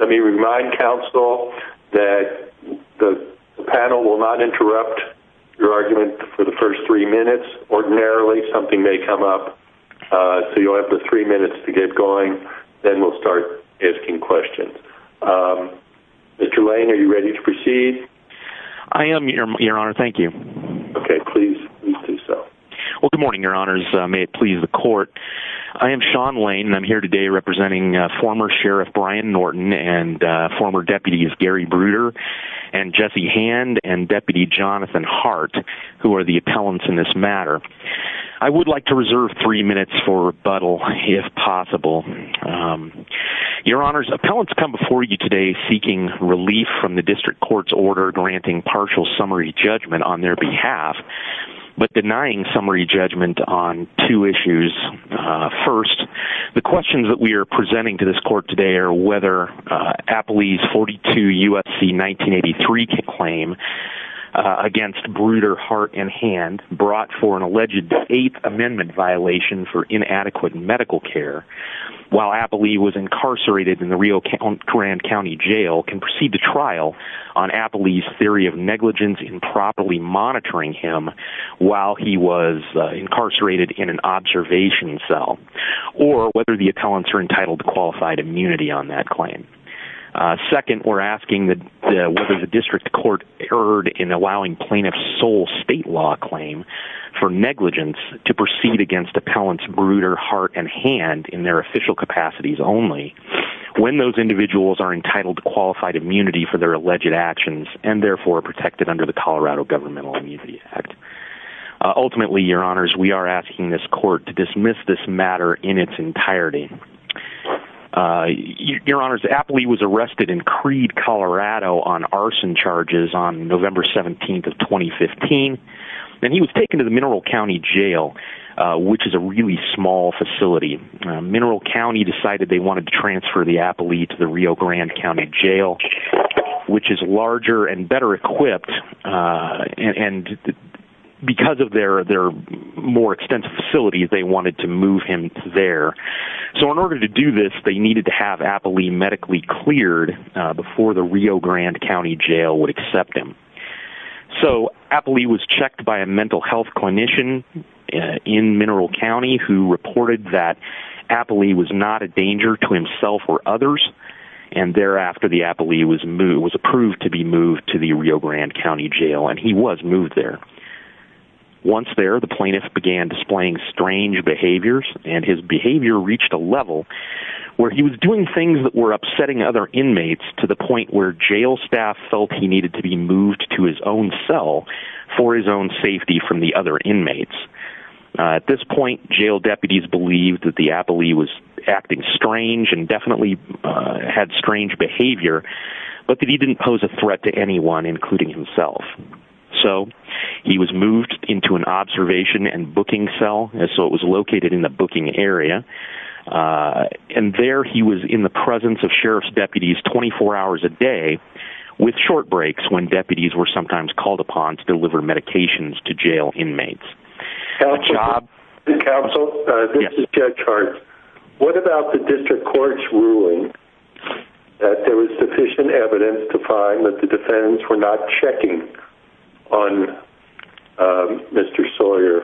Let me remind counsel that the panel will not interrupt your argument for the first three minutes. Ordinarily, something may come up. So you'll have the three minutes to get going. Then we'll start asking questions. Mr. Lane, are you ready to proceed? I am, Your Honor. Thank you. Okay, please do so. Well, good morning, Your Honors. May it please the court. I am Sean Lane, and I'm here today representing former Sheriff Brian Norton and former Deputies Gary Bruder and Jesse Hand and Deputy Jonathan Hart, who are the appellants in this matter. I would like to reserve three minutes for rebuttal, if possible. Your Honors, appellants come before you today seeking relief from the district court's order granting partial summary judgment on their behalf, but denying summary judgment on two issues. First, the questions that we are presenting to this court today are whether Appley's 42 U.S.C. 1983 claim against Bruder, Hart, and Hand brought for an alleged Eighth Amendment violation for inadequate medical care, while Appley was incarcerated in the Rio Grande County Jail, can proceed to trial on Appley's theory of negligence in properly monitoring him while he was incarcerated in an observation cell, or whether the appellants are entitled to qualified immunity on that claim. Second, we're asking whether the district court erred in allowing plaintiff's sole state law claim for negligence to proceed against appellants Bruder, Hart, and Hand in their official capacities only when those individuals are entitled to qualified immunity for their alleged actions and therefore protected under the Colorado Governmental Immunity Act. Ultimately, Your Honors, we are asking this court to dismiss this matter in its entirety. Your Honors, Appley was arrested in Creed, Colorado on arson charges on November 17th of 2015, and he was taken to the Mineral County Jail, which is a really small facility. Mineral County decided they wanted to transfer the Appley to the Rio Grande County Jail, which is larger and better equipped, and because of their more extensive facility, they wanted to move him there. So in order to do this, they needed to have Appley medically cleared before the Rio Grande County Jail would accept him. So, Appley was checked by a mental health clinician in Mineral County who reported that there were others, and thereafter the Appley was approved to be moved to the Rio Grande County Jail, and he was moved there. Once there, the plaintiff began displaying strange behaviors, and his behavior reached a level where he was doing things that were upsetting other inmates to the point where jail staff felt he needed to be moved to his own cell for his own safety from the other inmates. At this point, jail deputies believed that he was acting strange and definitely had strange behavior, but that he didn't pose a threat to anyone, including himself. So, he was moved into an observation and booking cell, so it was located in the booking area, and there he was in the presence of sheriff's deputies 24 hours a day, with short breaks when deputies were sometimes called upon to deliver medications to jail inmates. Counsel, this is Judge Hart. What about the district court's ruling that there was sufficient evidence to find that the defendants were not checking on Mr. Sawyer?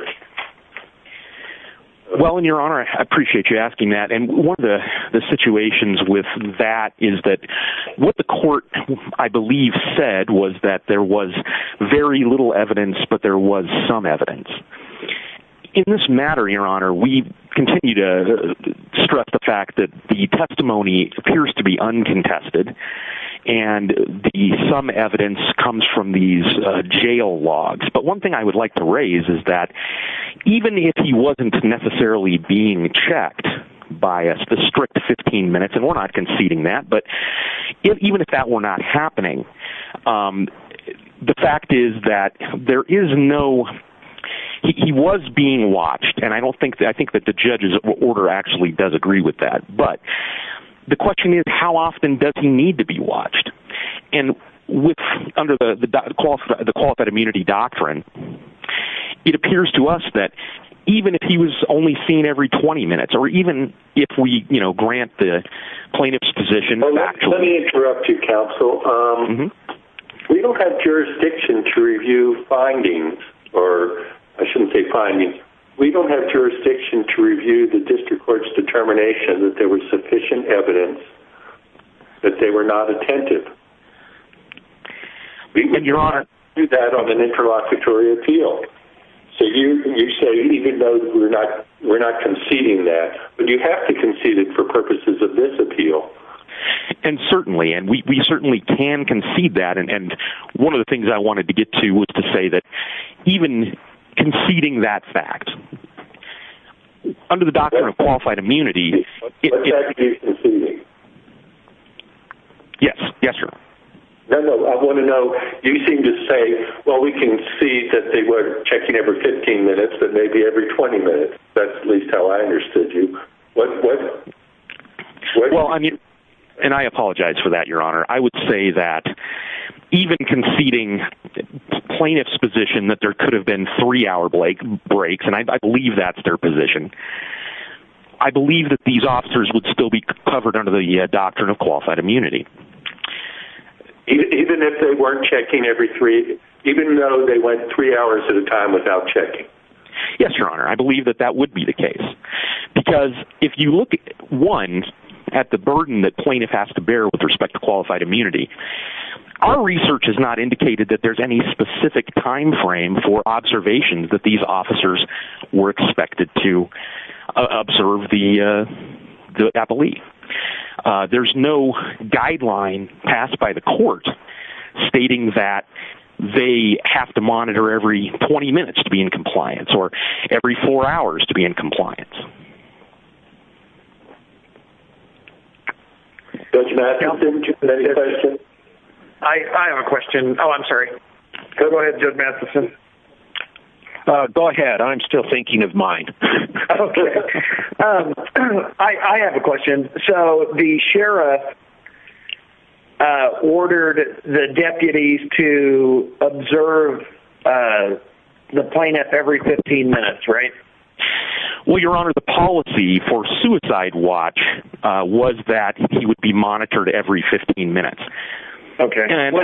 Well, in your honor, I appreciate you asking that, and one of the situations with that is that what the court, I believe, said was that there was very little evidence, but there was some evidence. In this matter, your honor, we continue to stress the fact that the testimony appears to be uncontested, and some evidence comes from these jail logs, but one thing I would like to raise is that even if he wasn't necessarily being checked by us, the strict 15 minutes, and we're not conceding that, but even if that were not happening, the fact is that there is no, he was being watched, and I don't think, I think that the judge's order actually does agree with that, but the question is how often does he need to be watched, and with, under the qualified immunity doctrine, it appears to us that even if he was only seen every 20 minutes, or even if we, you know, grant the plaintiff's position. Let me interrupt you, counsel. We don't have jurisdiction to review findings, or, I shouldn't say findings, we don't have jurisdiction to review the district court's determination that there was sufficient evidence that they were not attentive. Your honor. We don't do that on an interlocutory appeal. So you say, even though we're not conceding that, but you have to concede it for purposes of this appeal. And certainly, and we certainly can concede that, and one of the things I wanted to get to was to say that even conceding that fact, under the doctrine of qualified immunity. But that is conceding. Yes, yes, your honor. No, no, I want to know, you seem to say, well, we can see that they were checking every 15 minutes, but maybe every 20 minutes. That's at least how I understood you. What, what? Well, I mean, and I apologize for that, your honor. I would say that even conceding the plaintiff's position that there could have been three-hour breaks, and I believe that's their position, I believe that these officers would still be covered under the doctrine of qualified immunity. Even if they weren't checking every three, even though they went three hours at a time without checking? Yes, your honor. I believe that that would be the case. Because if you look at, one, at the burden that plaintiff has to bear with respect to qualified immunity, our research has not indicated that there's any specific time frame for observation that these officers were expected to observe the, I believe. There's no guideline passed by the court stating that they have to monitor every 20 minutes to be in compliance, or every four hours to be in compliance. Judge Matheson, did you have a question? I have a question. Oh, I'm sorry. Go ahead, Judge Matheson. Go ahead. I'm still thinking of mine. Okay. I have a question. So, the sheriff ordered the deputies to observe the plaintiff every 15 minutes, right? Well, your honor, the policy for Suicide Watch was that he would be monitored every 15 minutes. Okay. I mean,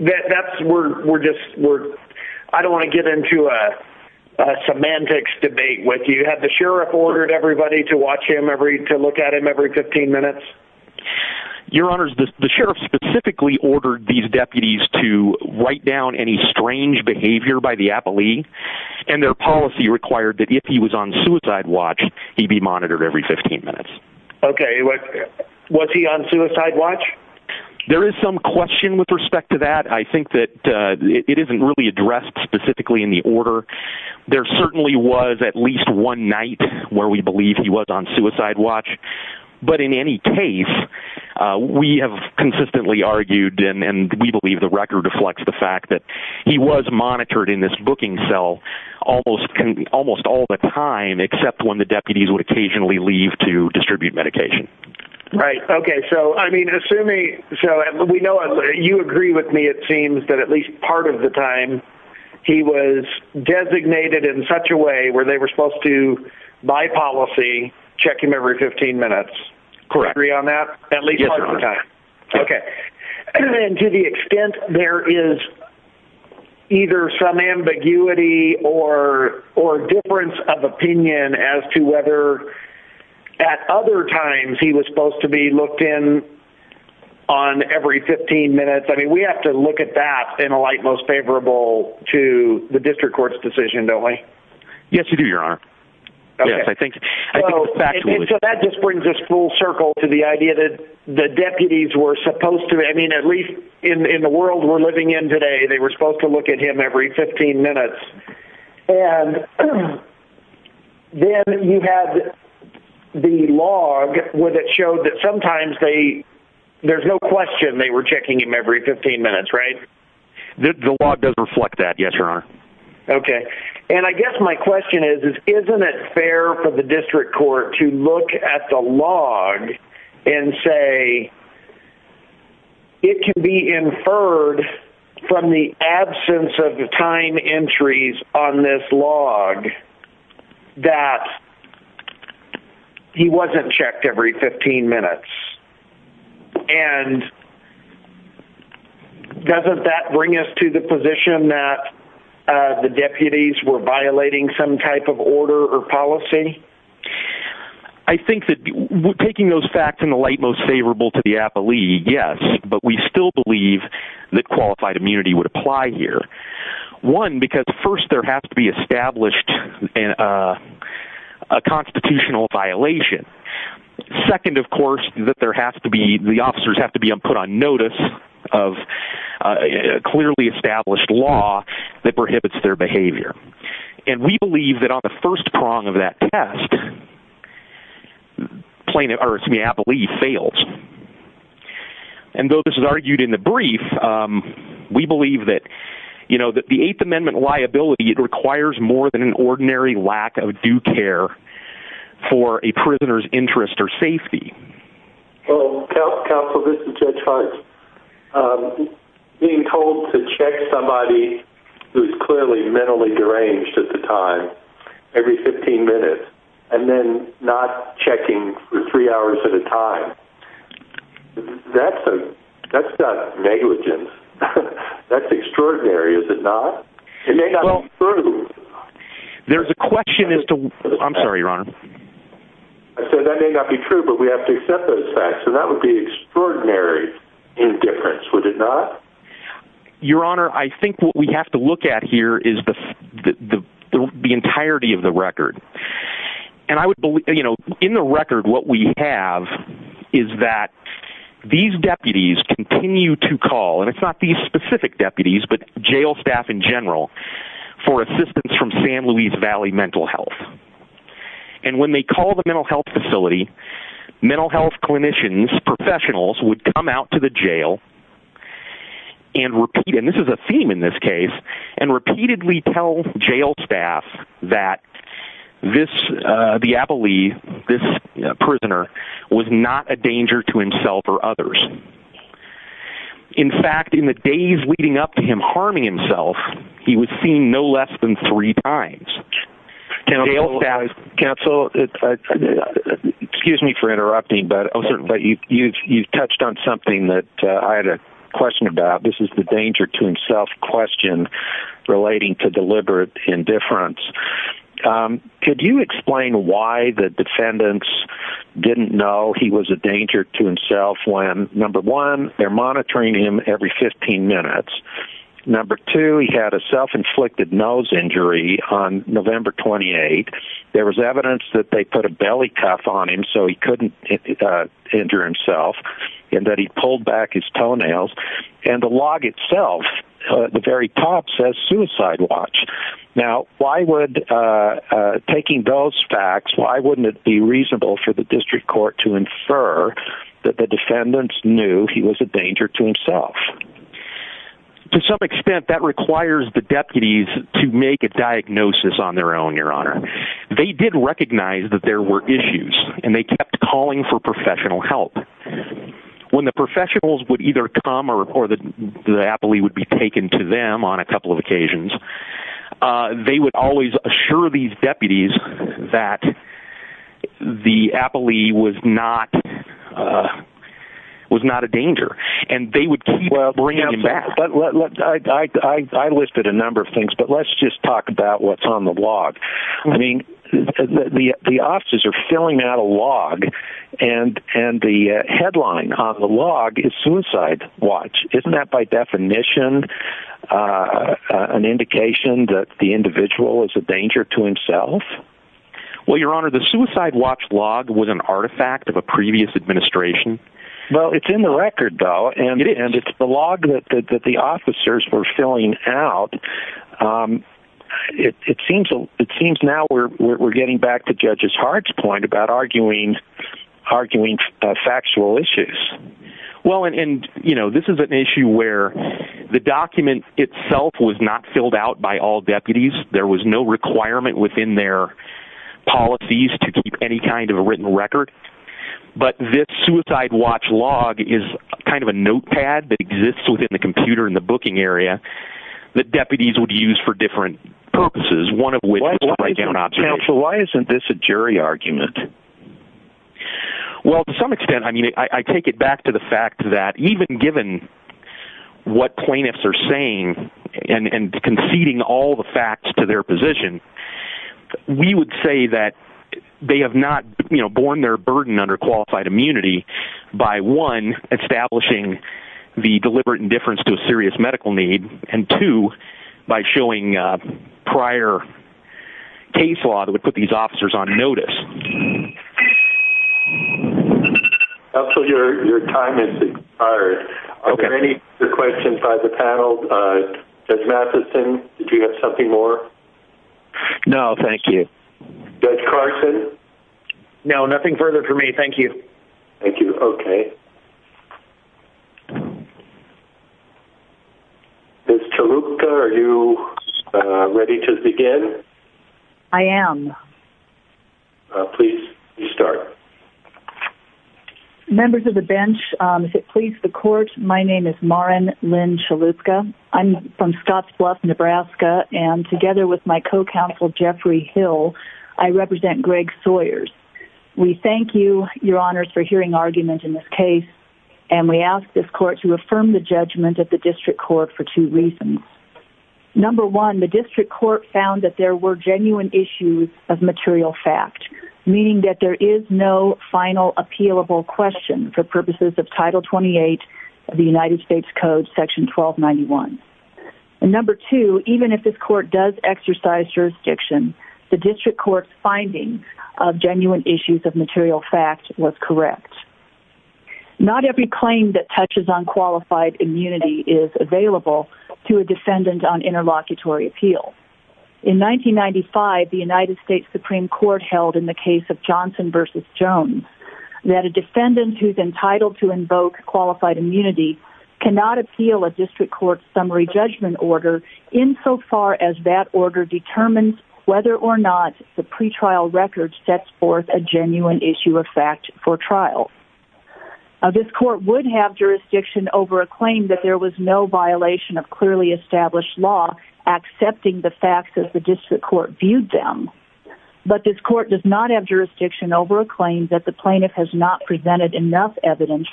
that's, we're just, I don't want to get into a semantics debate with you. Had the sheriff ordered everybody to watch him every, to look at him every 15 minutes? Your honors, the sheriff specifically ordered these deputies to write down any strange behavior by the appellee, and their policy required that if he was on Suicide Watch, he be monitored every 15 minutes. Okay. Was he on Suicide Watch? There is some question with respect to that. I think that it isn't really addressed specifically in the order. There certainly was at least one night where we believe he was on Suicide Watch, but in any case, we have consistently argued, and we believe the record reflects the fact that he was monitored in this booking cell almost all the time, except when the Right. Okay. So, I mean, assuming, so we know, you agree with me, it seems that at least part of the time he was designated in such a way where they were supposed to, by policy, check him every 15 minutes. Correct. Agree on that? Yes, your honor. Okay. And to the extent there is either some ambiguity or difference of opinion as to whether at other times he was supposed to be looked in on every 15 minutes, I mean, we have to look at that in a light most favorable to the district court's decision, don't we? Yes, you do, your honor. Okay. Yes, I think it's factual. And so that just brings us full circle to the idea that the deputies were supposed to, I mean, at least in the world we're living in today, they were supposed to look at him every 15 minutes. And then you have the log where it showed that sometimes they, there's no question they were checking him every 15 minutes, right? The log does reflect that, yes, your honor. Okay. And I guess my question is, isn't it fair for the district court to look at the inferred from the absence of the time entries on this log that he wasn't checked every 15 minutes? And doesn't that bring us to the position that the deputies were violating some type of order or policy? I think that taking those facts in the light most favorable to the appellee, yes, but we still believe that qualified immunity would apply here. One, because first there has to be established a constitutional violation. Second, of course, that there has to be, the officers have to be put on notice of a clearly established law that prohibits their behavior. And we believe that on the first prong of that test plaintiff, or excuse me, appellee fails. And though this is argued in the brief, we believe that, you know, that the eighth amendment liability, it requires more than an ordinary lack of due care for a prisoner's interest or safety. Counsel, this is Judge Hart. Being told to check somebody who's clearly mentally deranged at the time, every 15 minutes, and then not checking for three hours at a time, that's not negligent. That's extraordinary, is it not? It may not be true. There's a question as to, I'm sorry, Your Honor. I said that may not be true, but we have to accept those facts. So that would be extraordinary indifference, would it not? Your Honor, I think what we have to look at here is the entirety of the record. And I would believe, you know, in the record what we have is that these deputies continue to call, and it's not these specific deputies, but jail staff in general, for assistance from San Luis Valley Mental Health. And when they call the mental health facility, mental health clinicians, professionals, would come out to the jail and repeat, and this is a theme in this case, and repeatedly tell jail staff that this, Diaboli, this prisoner, was not a danger to himself or others. In fact, in the days leading up to him harming himself, he was seen no less than three times. Counsel, excuse me for interrupting, but you've touched on something that I had a question about. This is the danger to himself question relating to deliberate indifference. Could you explain why the defendants didn't know he was a danger to himself when, number one, they're monitoring him every 15 minutes. Number two, he had a self-inflicted nose injury on November 28. There was evidence that they put a belly cuff on him so he couldn't injure himself, and that he pulled back his toenails. And the log itself, at the very top, says suicide watch. Now, taking those facts, why wouldn't it be reasonable for the district court to infer that the defendants knew he was a danger to himself? To some extent, that requires the deputies to make a diagnosis on their own, Your Honor. They did recognize that there were issues, and they kept calling for professional help. The professionals would either come or the appellee would be taken to them on a couple of occasions. They would always assure these deputies that the appellee was not a danger. And they would keep bringing him back. I listed a number of things, but let's just talk about what's on the log. The officers are filling out a log, and the headline on the log is suicide watch. Isn't that, by definition, an indication that the individual is a danger to himself? Well, Your Honor, the suicide watch log was an artifact of a previous administration. Well, it's in the record, though, and it's the log that the officers were filling out. It seems now we're getting back to Judge Hart's point about arguing factual issues. Well, this is an issue where the document itself was not filled out by all deputies. There was no requirement within their policies to keep any kind of a written record. But this suicide watch log is kind of a notepad that exists within the computer in the booking area. The deputies would use for different purposes, one of which was to write down observations. Counsel, why isn't this a jury argument? Well, to some extent, I mean, I take it back to the fact that even given what plaintiffs are saying and conceding all the facts to their position, we would say that they have not borne their burden under qualified immunity by, one, establishing the deliberate indifference to a serious medical need, and two, by showing prior case law that would put these officers on notice. Counsel, your time has expired. Are there any other questions by the panel? Judge Matheson, did you have something more? No, thank you. Judge Carson? No, nothing further for me. Thank you. Thank you. Okay. Ms. Chalupka, are you ready to begin? I am. Please, you start. Members of the bench, if it pleases the court, my name is Maren Lynn Chalupka. I'm from Scotts Bluff, Nebraska, and together with my co-counsel, Jeffrey Hill, I represent Greg Sawyers. We thank you, your honors, for hearing argument in this case, and we ask this court to affirm the judgment at the district court for two reasons. Number one, the district court found that there were genuine issues of material fact, meaning that there is no final appealable question for purposes of Title 28 of the United States Code, Section 1291. And number two, even if this court does exercise jurisdiction, the district court's findings of genuine issues of material fact was correct. Not every claim that touches on qualified immunity is available to a defendant on interlocutory appeal. In 1995, the United States Supreme Court held in the case of Johnson v. Jones that a defendant who's entitled to invoke qualified immunity cannot appeal a district court's summary judgment order insofar as that order determines whether or not the pretrial record sets forth a genuine issue of fact for trial. This court would have jurisdiction over a claim that there was no violation of clearly established law accepting the facts as the district court viewed them, but this court does not have jurisdiction over a claim that the plaintiff has not presented enough evidence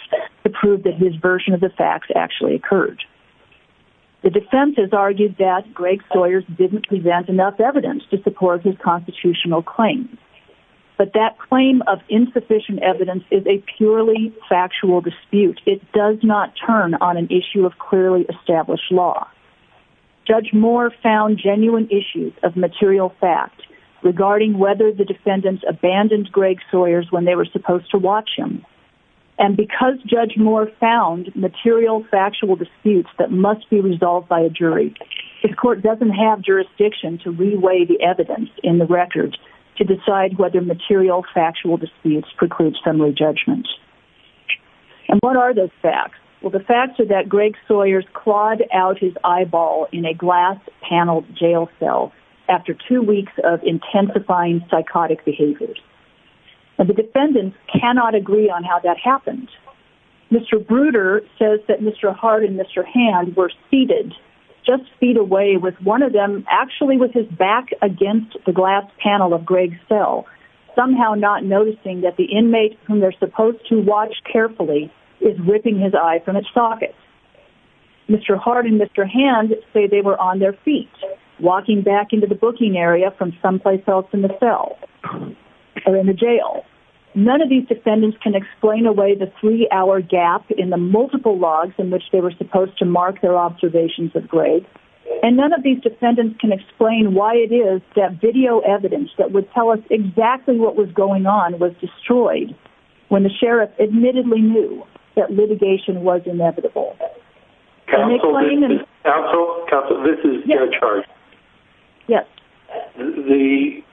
to prove that his version of the facts actually occurred. The defense has argued that Greg Sawyers didn't present enough evidence to support his constitutional claims, but that claim of insufficient evidence is a purely factual dispute. It does not turn on an issue of clearly established law. Judge Moore found genuine issues of material fact regarding whether the defendants abandoned Greg Sawyers when they were supposed to watch him. And because Judge Moore found material factual disputes that must be resolved by a jury, his court doesn't have jurisdiction to re-weigh the evidence in the record to decide whether material factual disputes preclude summary judgments. And what are those facts? Well, the facts are that Greg Sawyers clawed out his eyeball in a glass-paneled jail cell after two weeks of intensifying psychotic behaviors. And the defendants cannot agree on how that happened. Mr. Bruder says that Mr. Hart and Mr. Hand were seated just feet away with one of them actually with his back against the glass panel of Greg's cell, somehow not noticing that the inmate whom they're supposed to watch carefully is ripping his eye from its socket. Mr. Hart and Mr. Hand say they were on their feet, walking back into the booking area from someplace else in the cell or in the jail. None of these defendants can explain away the three-hour gap in the multiple logs in which they were supposed to mark their observations of Greg. And none of these defendants can explain why it is that video evidence that would tell us exactly what was going on was destroyed when the sheriff admittedly knew that litigation was inevitable. Counsel, this is Judge Hart. Yes. The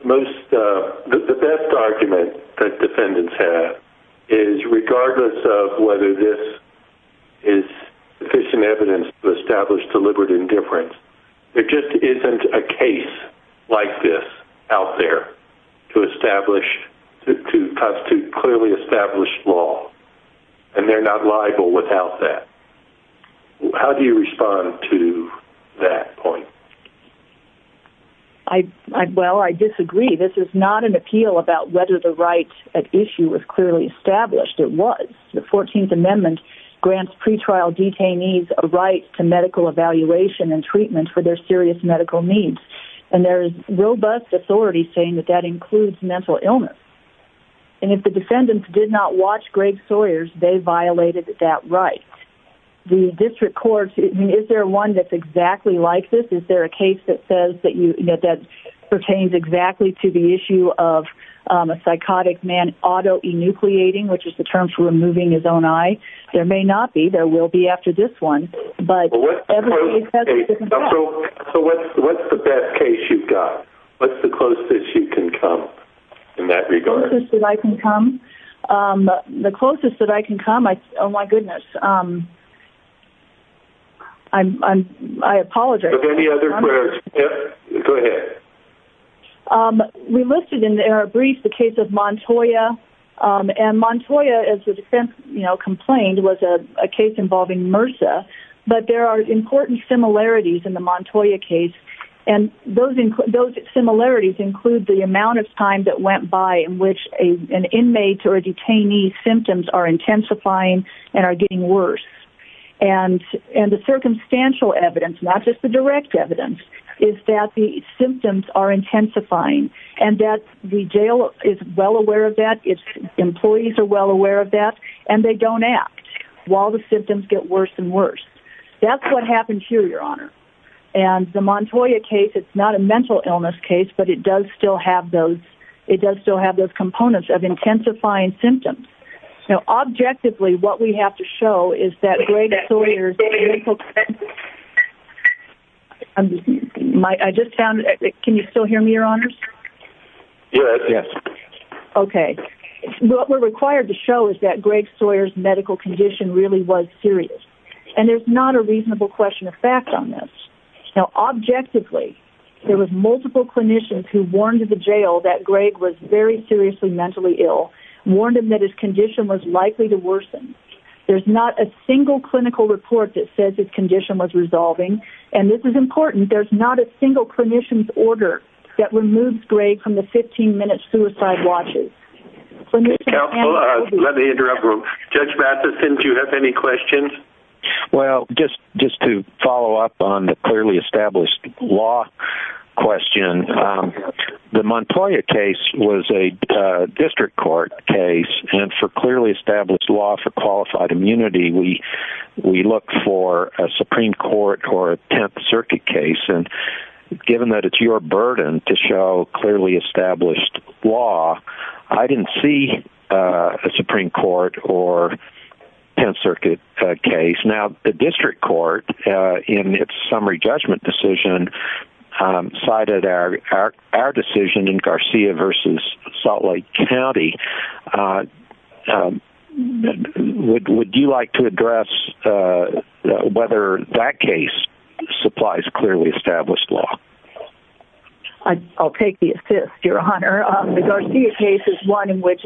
best argument that defendants have is, regardless of whether this is sufficient evidence to establish deliberate indifference, there just isn't a case like this out there to establish, to constitute clearly established law. And they're not liable without that. How do you respond to that point? Well, I disagree. This is not an appeal about whether the right at issue was clearly established. It was. The 14th Amendment grants pretrial detainees a right to medical evaluation and treatment for their serious medical needs. And there is robust authority saying that that includes mental illness. And if the defendants did not watch Greg Sawyer's, they violated that right. The district courts, is there one that's exactly like this? Is there a case that says that you, that pertains exactly to the issue of a psychotic man auto-enucleating, which is the term for removing his own eye? There may not be. There will be after this one. But what's the best case you've got? What's the closest you can come in that regard? The closest that I can come? The closest that I can come? Oh my goodness. I apologize. Any other questions? Go ahead. We listed in our brief the case of Montoya. And Montoya, as the defense complained, was a case involving MRSA. But there are important similarities in the Montoya case. And those similarities include the amount of time that went by in which an inmate or a detainee's symptoms are intensifying and are getting worse. And the circumstantial evidence, not just the direct evidence, is that the symptoms are intensifying. And that the jail is well aware of that. Its employees are well aware of that. And they don't act while the symptoms get worse and worse. That's what happened here, Your Honor. And the Montoya case, it's not a mental illness case, but it does still have those components of intensifying symptoms. Now, objectively, what we have to show is that Greg Sawyer's... I just found... Can you still hear me, Your Honor? Yes. Okay. What we're required to show is that Greg Sawyer's medical condition really was serious. And there's not a reasonable question of fact on this. Now, objectively, there were multiple clinicians who warned the jail that Greg was very seriously mentally ill, warned him that his condition was likely to worsen. There's not a single clinical report that says his condition was resolving. And this is important, there's not a single clinician's order that removes Greg from the 15-minute suicide watches. Let me interrupt. Judge Matheson, do you have any questions? Well, just to follow up on the clearly established law question, the Montoya case was a district court case. And for clearly established law for qualified immunity, we look for a Supreme Court or a Tenth Circuit case. And given that it's your burden to show clearly established law, I didn't see a Supreme Court or Tenth Circuit case. Now, the district court, in its summary judgment decision, cited our decision in Garcia v. Salt Lake County. Would you like to address whether that case supplies clearly established law? I'll take the assist, Your Honor. The Garcia case is one in which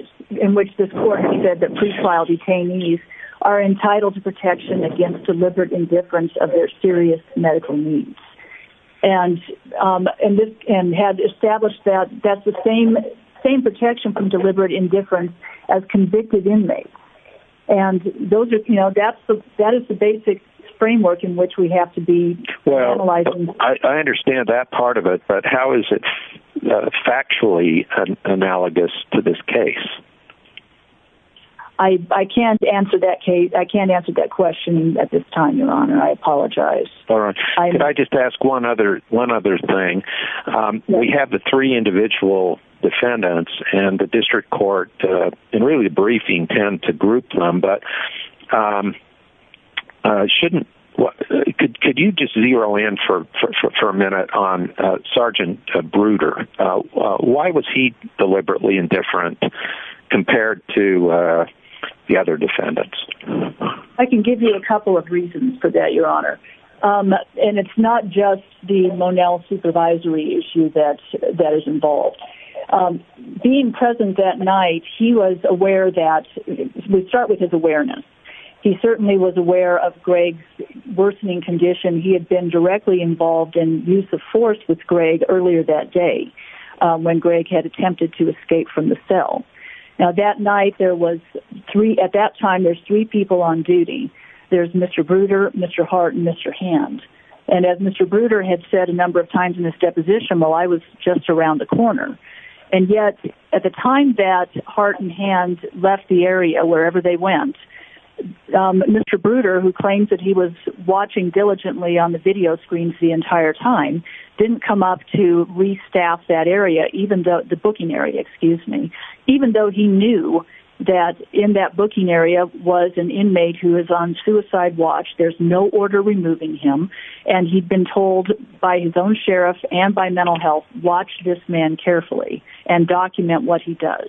this court has said that pre-trial detainees are entitled to protection against deliberate indifference of their serious medical needs. And had established that, that's the same protection from deliberate indifference as convicted inmates. And that is the basic framework in which we have to be analyzing. I understand that part of it, but how is it factually analogous to this case? I can't answer that question at this time, Your Honor. I apologize. Could I just ask one other thing? We have the three individual defendants and the district court in really the briefing tend to group them. But could you just zero in for a minute on Sgt. Bruder? Why was he deliberately indifferent compared to the other defendants? I can give you a couple of reasons for that, Your Honor. And it's not just the Monell supervisory issue that is involved. Being present that night, he was aware that... We start with his awareness. He certainly was aware of Greg's worsening condition. He had been directly involved in use of force with Greg earlier that day when Greg had attempted to escape from the cell. Now, that night, there was three... At that time, there's three people on duty. There's Mr. Bruder, Mr. Hart, and Mr. Hand. And as Mr. Bruder had said a number of times in his deposition, well, I was just around the corner. And yet, at the time that Hart and Hand left the area wherever they went, Mr. Bruder, who claims that he was watching diligently on the video screens the entire time, didn't come up to restaff that area, the booking area, excuse me. Even though he knew that in that booking area was an inmate who was on suicide watch. There's no order removing him. And he'd been told by his own sheriff and by mental health, watch this man carefully and document what he does.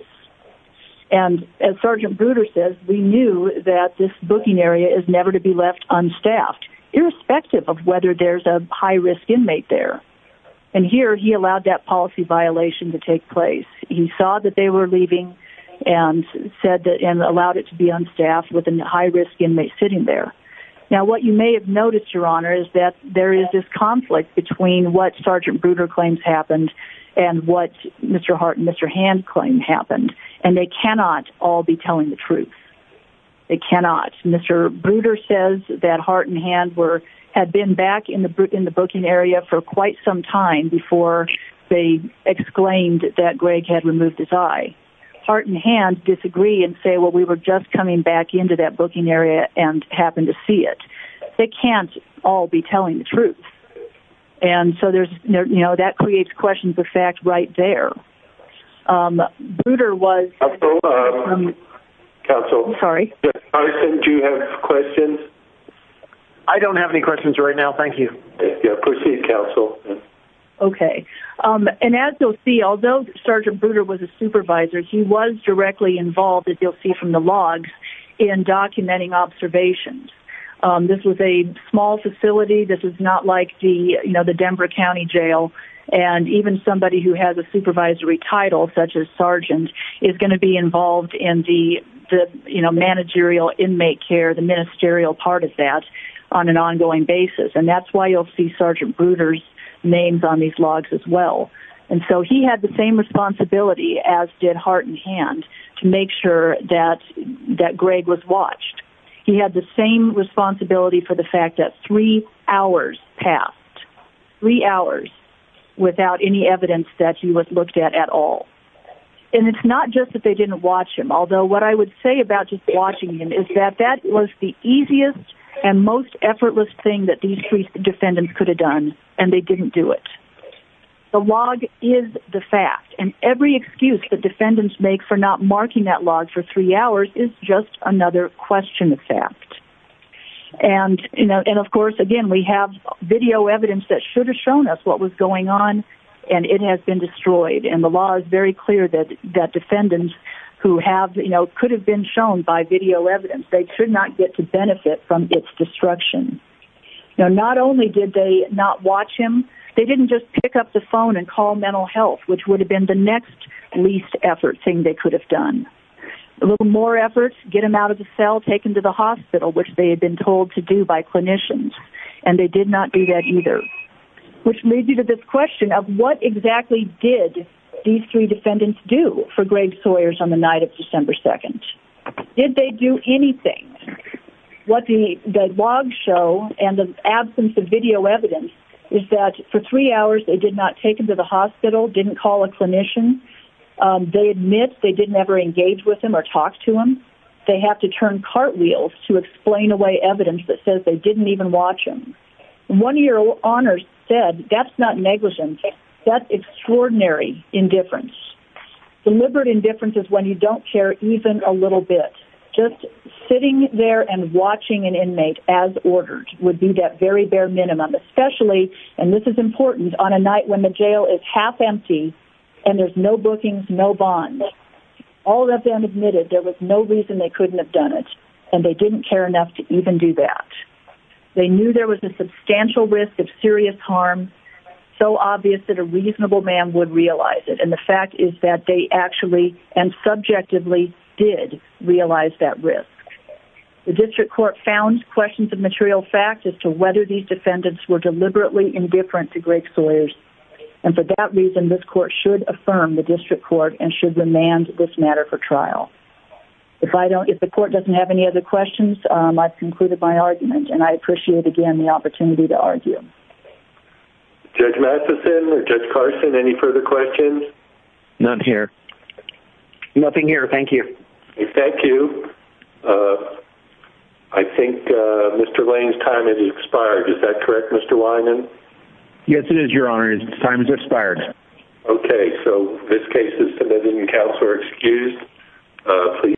And as Sergeant Bruder says, we knew that this booking area is never to be left unstaffed, irrespective of whether there's a high-risk inmate there. And here, he allowed that policy violation to take place. He saw that they were leaving and said that... and allowed it to be unstaffed with a high-risk inmate sitting there. Now, what you may have noticed, Your Honor, is that there is this conflict between what Sergeant Bruder claims happened and what Mr. Hart and Mr. Hand claim happened. And they cannot all be telling the truth. They cannot. Mr. Bruder says that Hart and Hand were... had been back in the booking area for quite some time before they exclaimed that Greg had removed his eye. Hart and Hand disagree and say, well, we were just coming back into that booking area and happened to see it. They can't all be telling the truth. And so there's... you know, that creates questions of fact right there. Um, Bruder was... Counsel, um... Counsel. Sorry. Carson, do you have questions? I don't have any questions right now. Thank you. Proceed, Counsel. Okay. And as you'll see, although Sergeant Bruder was a supervisor, he was directly involved, as you'll see from the logs, in documenting observations. Um, this was a small facility. This was not like the, you know, the Denver County Jail. And even somebody who has a supervisory title, such as Sergeant, is going to be involved in the, you know, managerial inmate care, the ministerial part of that, on an ongoing basis. And that's why you'll see Sergeant Bruder's names on these logs as well. And so he had the same responsibility as did Hart and Hand to make sure that... that Greg was watched. He had the same responsibility for the fact that three hours passed. Three hours without any evidence that he was looked at at all. And it's not just that they didn't watch him, although what I would say about just watching him is that that was the easiest and most effortless thing that these three defendants could have done, and they didn't do it. The log is the fact. And every excuse that defendants make about marking that log for three hours is just another question of fact. And of course, again, we have video evidence that should have shown us what was going on, and it has been destroyed. And the law is very clear that defendants who have, you know, could have been shown by video evidence, they could not get to benefit from its destruction. Now, not only did they not watch him, they didn't just pick up the phone and call mental health, which would have been the next least effort thing that they could have done. A little more effort, get him out of the cell, take him to the hospital, which they had been told to do by clinicians, and they did not do that either. Which leads me to this question of what exactly did these three defendants do for Greg Sawyers on the night of December 2nd? Did they do anything? What the logs show and the absence of video evidence is that for three hours they did not take him to the hospital, didn't call a clinician. They didn't either engage with him or talk to him. They have to turn cartwheels to explain away evidence that says they didn't even watch him. One of your honors said, that's not negligence, that's extraordinary indifference. Deliberate indifference is when you don't care even a little bit. Just sitting there and watching an inmate as ordered would be that very bare minimum, especially, and this is important, on a night when the jail is half empty and there's no bookings, all of them admitted there was no reason they couldn't have done it and they didn't care enough to even do that. They knew there was a substantial risk of serious harm so obvious that a reasonable man would realize it and the fact is that they actually and subjectively did realize that risk. The district court found questions of material fact as to whether these defendants were deliberately indifferent to Greg Sawyers and for that reason this court should affirm the district court trial. If the court doesn't have any other questions I've concluded my argument and I appreciate again the opportunity to argue. Judge Matheson or Judge Carson any further questions? None here. Nothing here, thank you. Thank you. I think Mr. Lane's time has expired, is that correct Mr. Wyman? Yes it is your honors, time has expired. Okay, so this case is submitted please.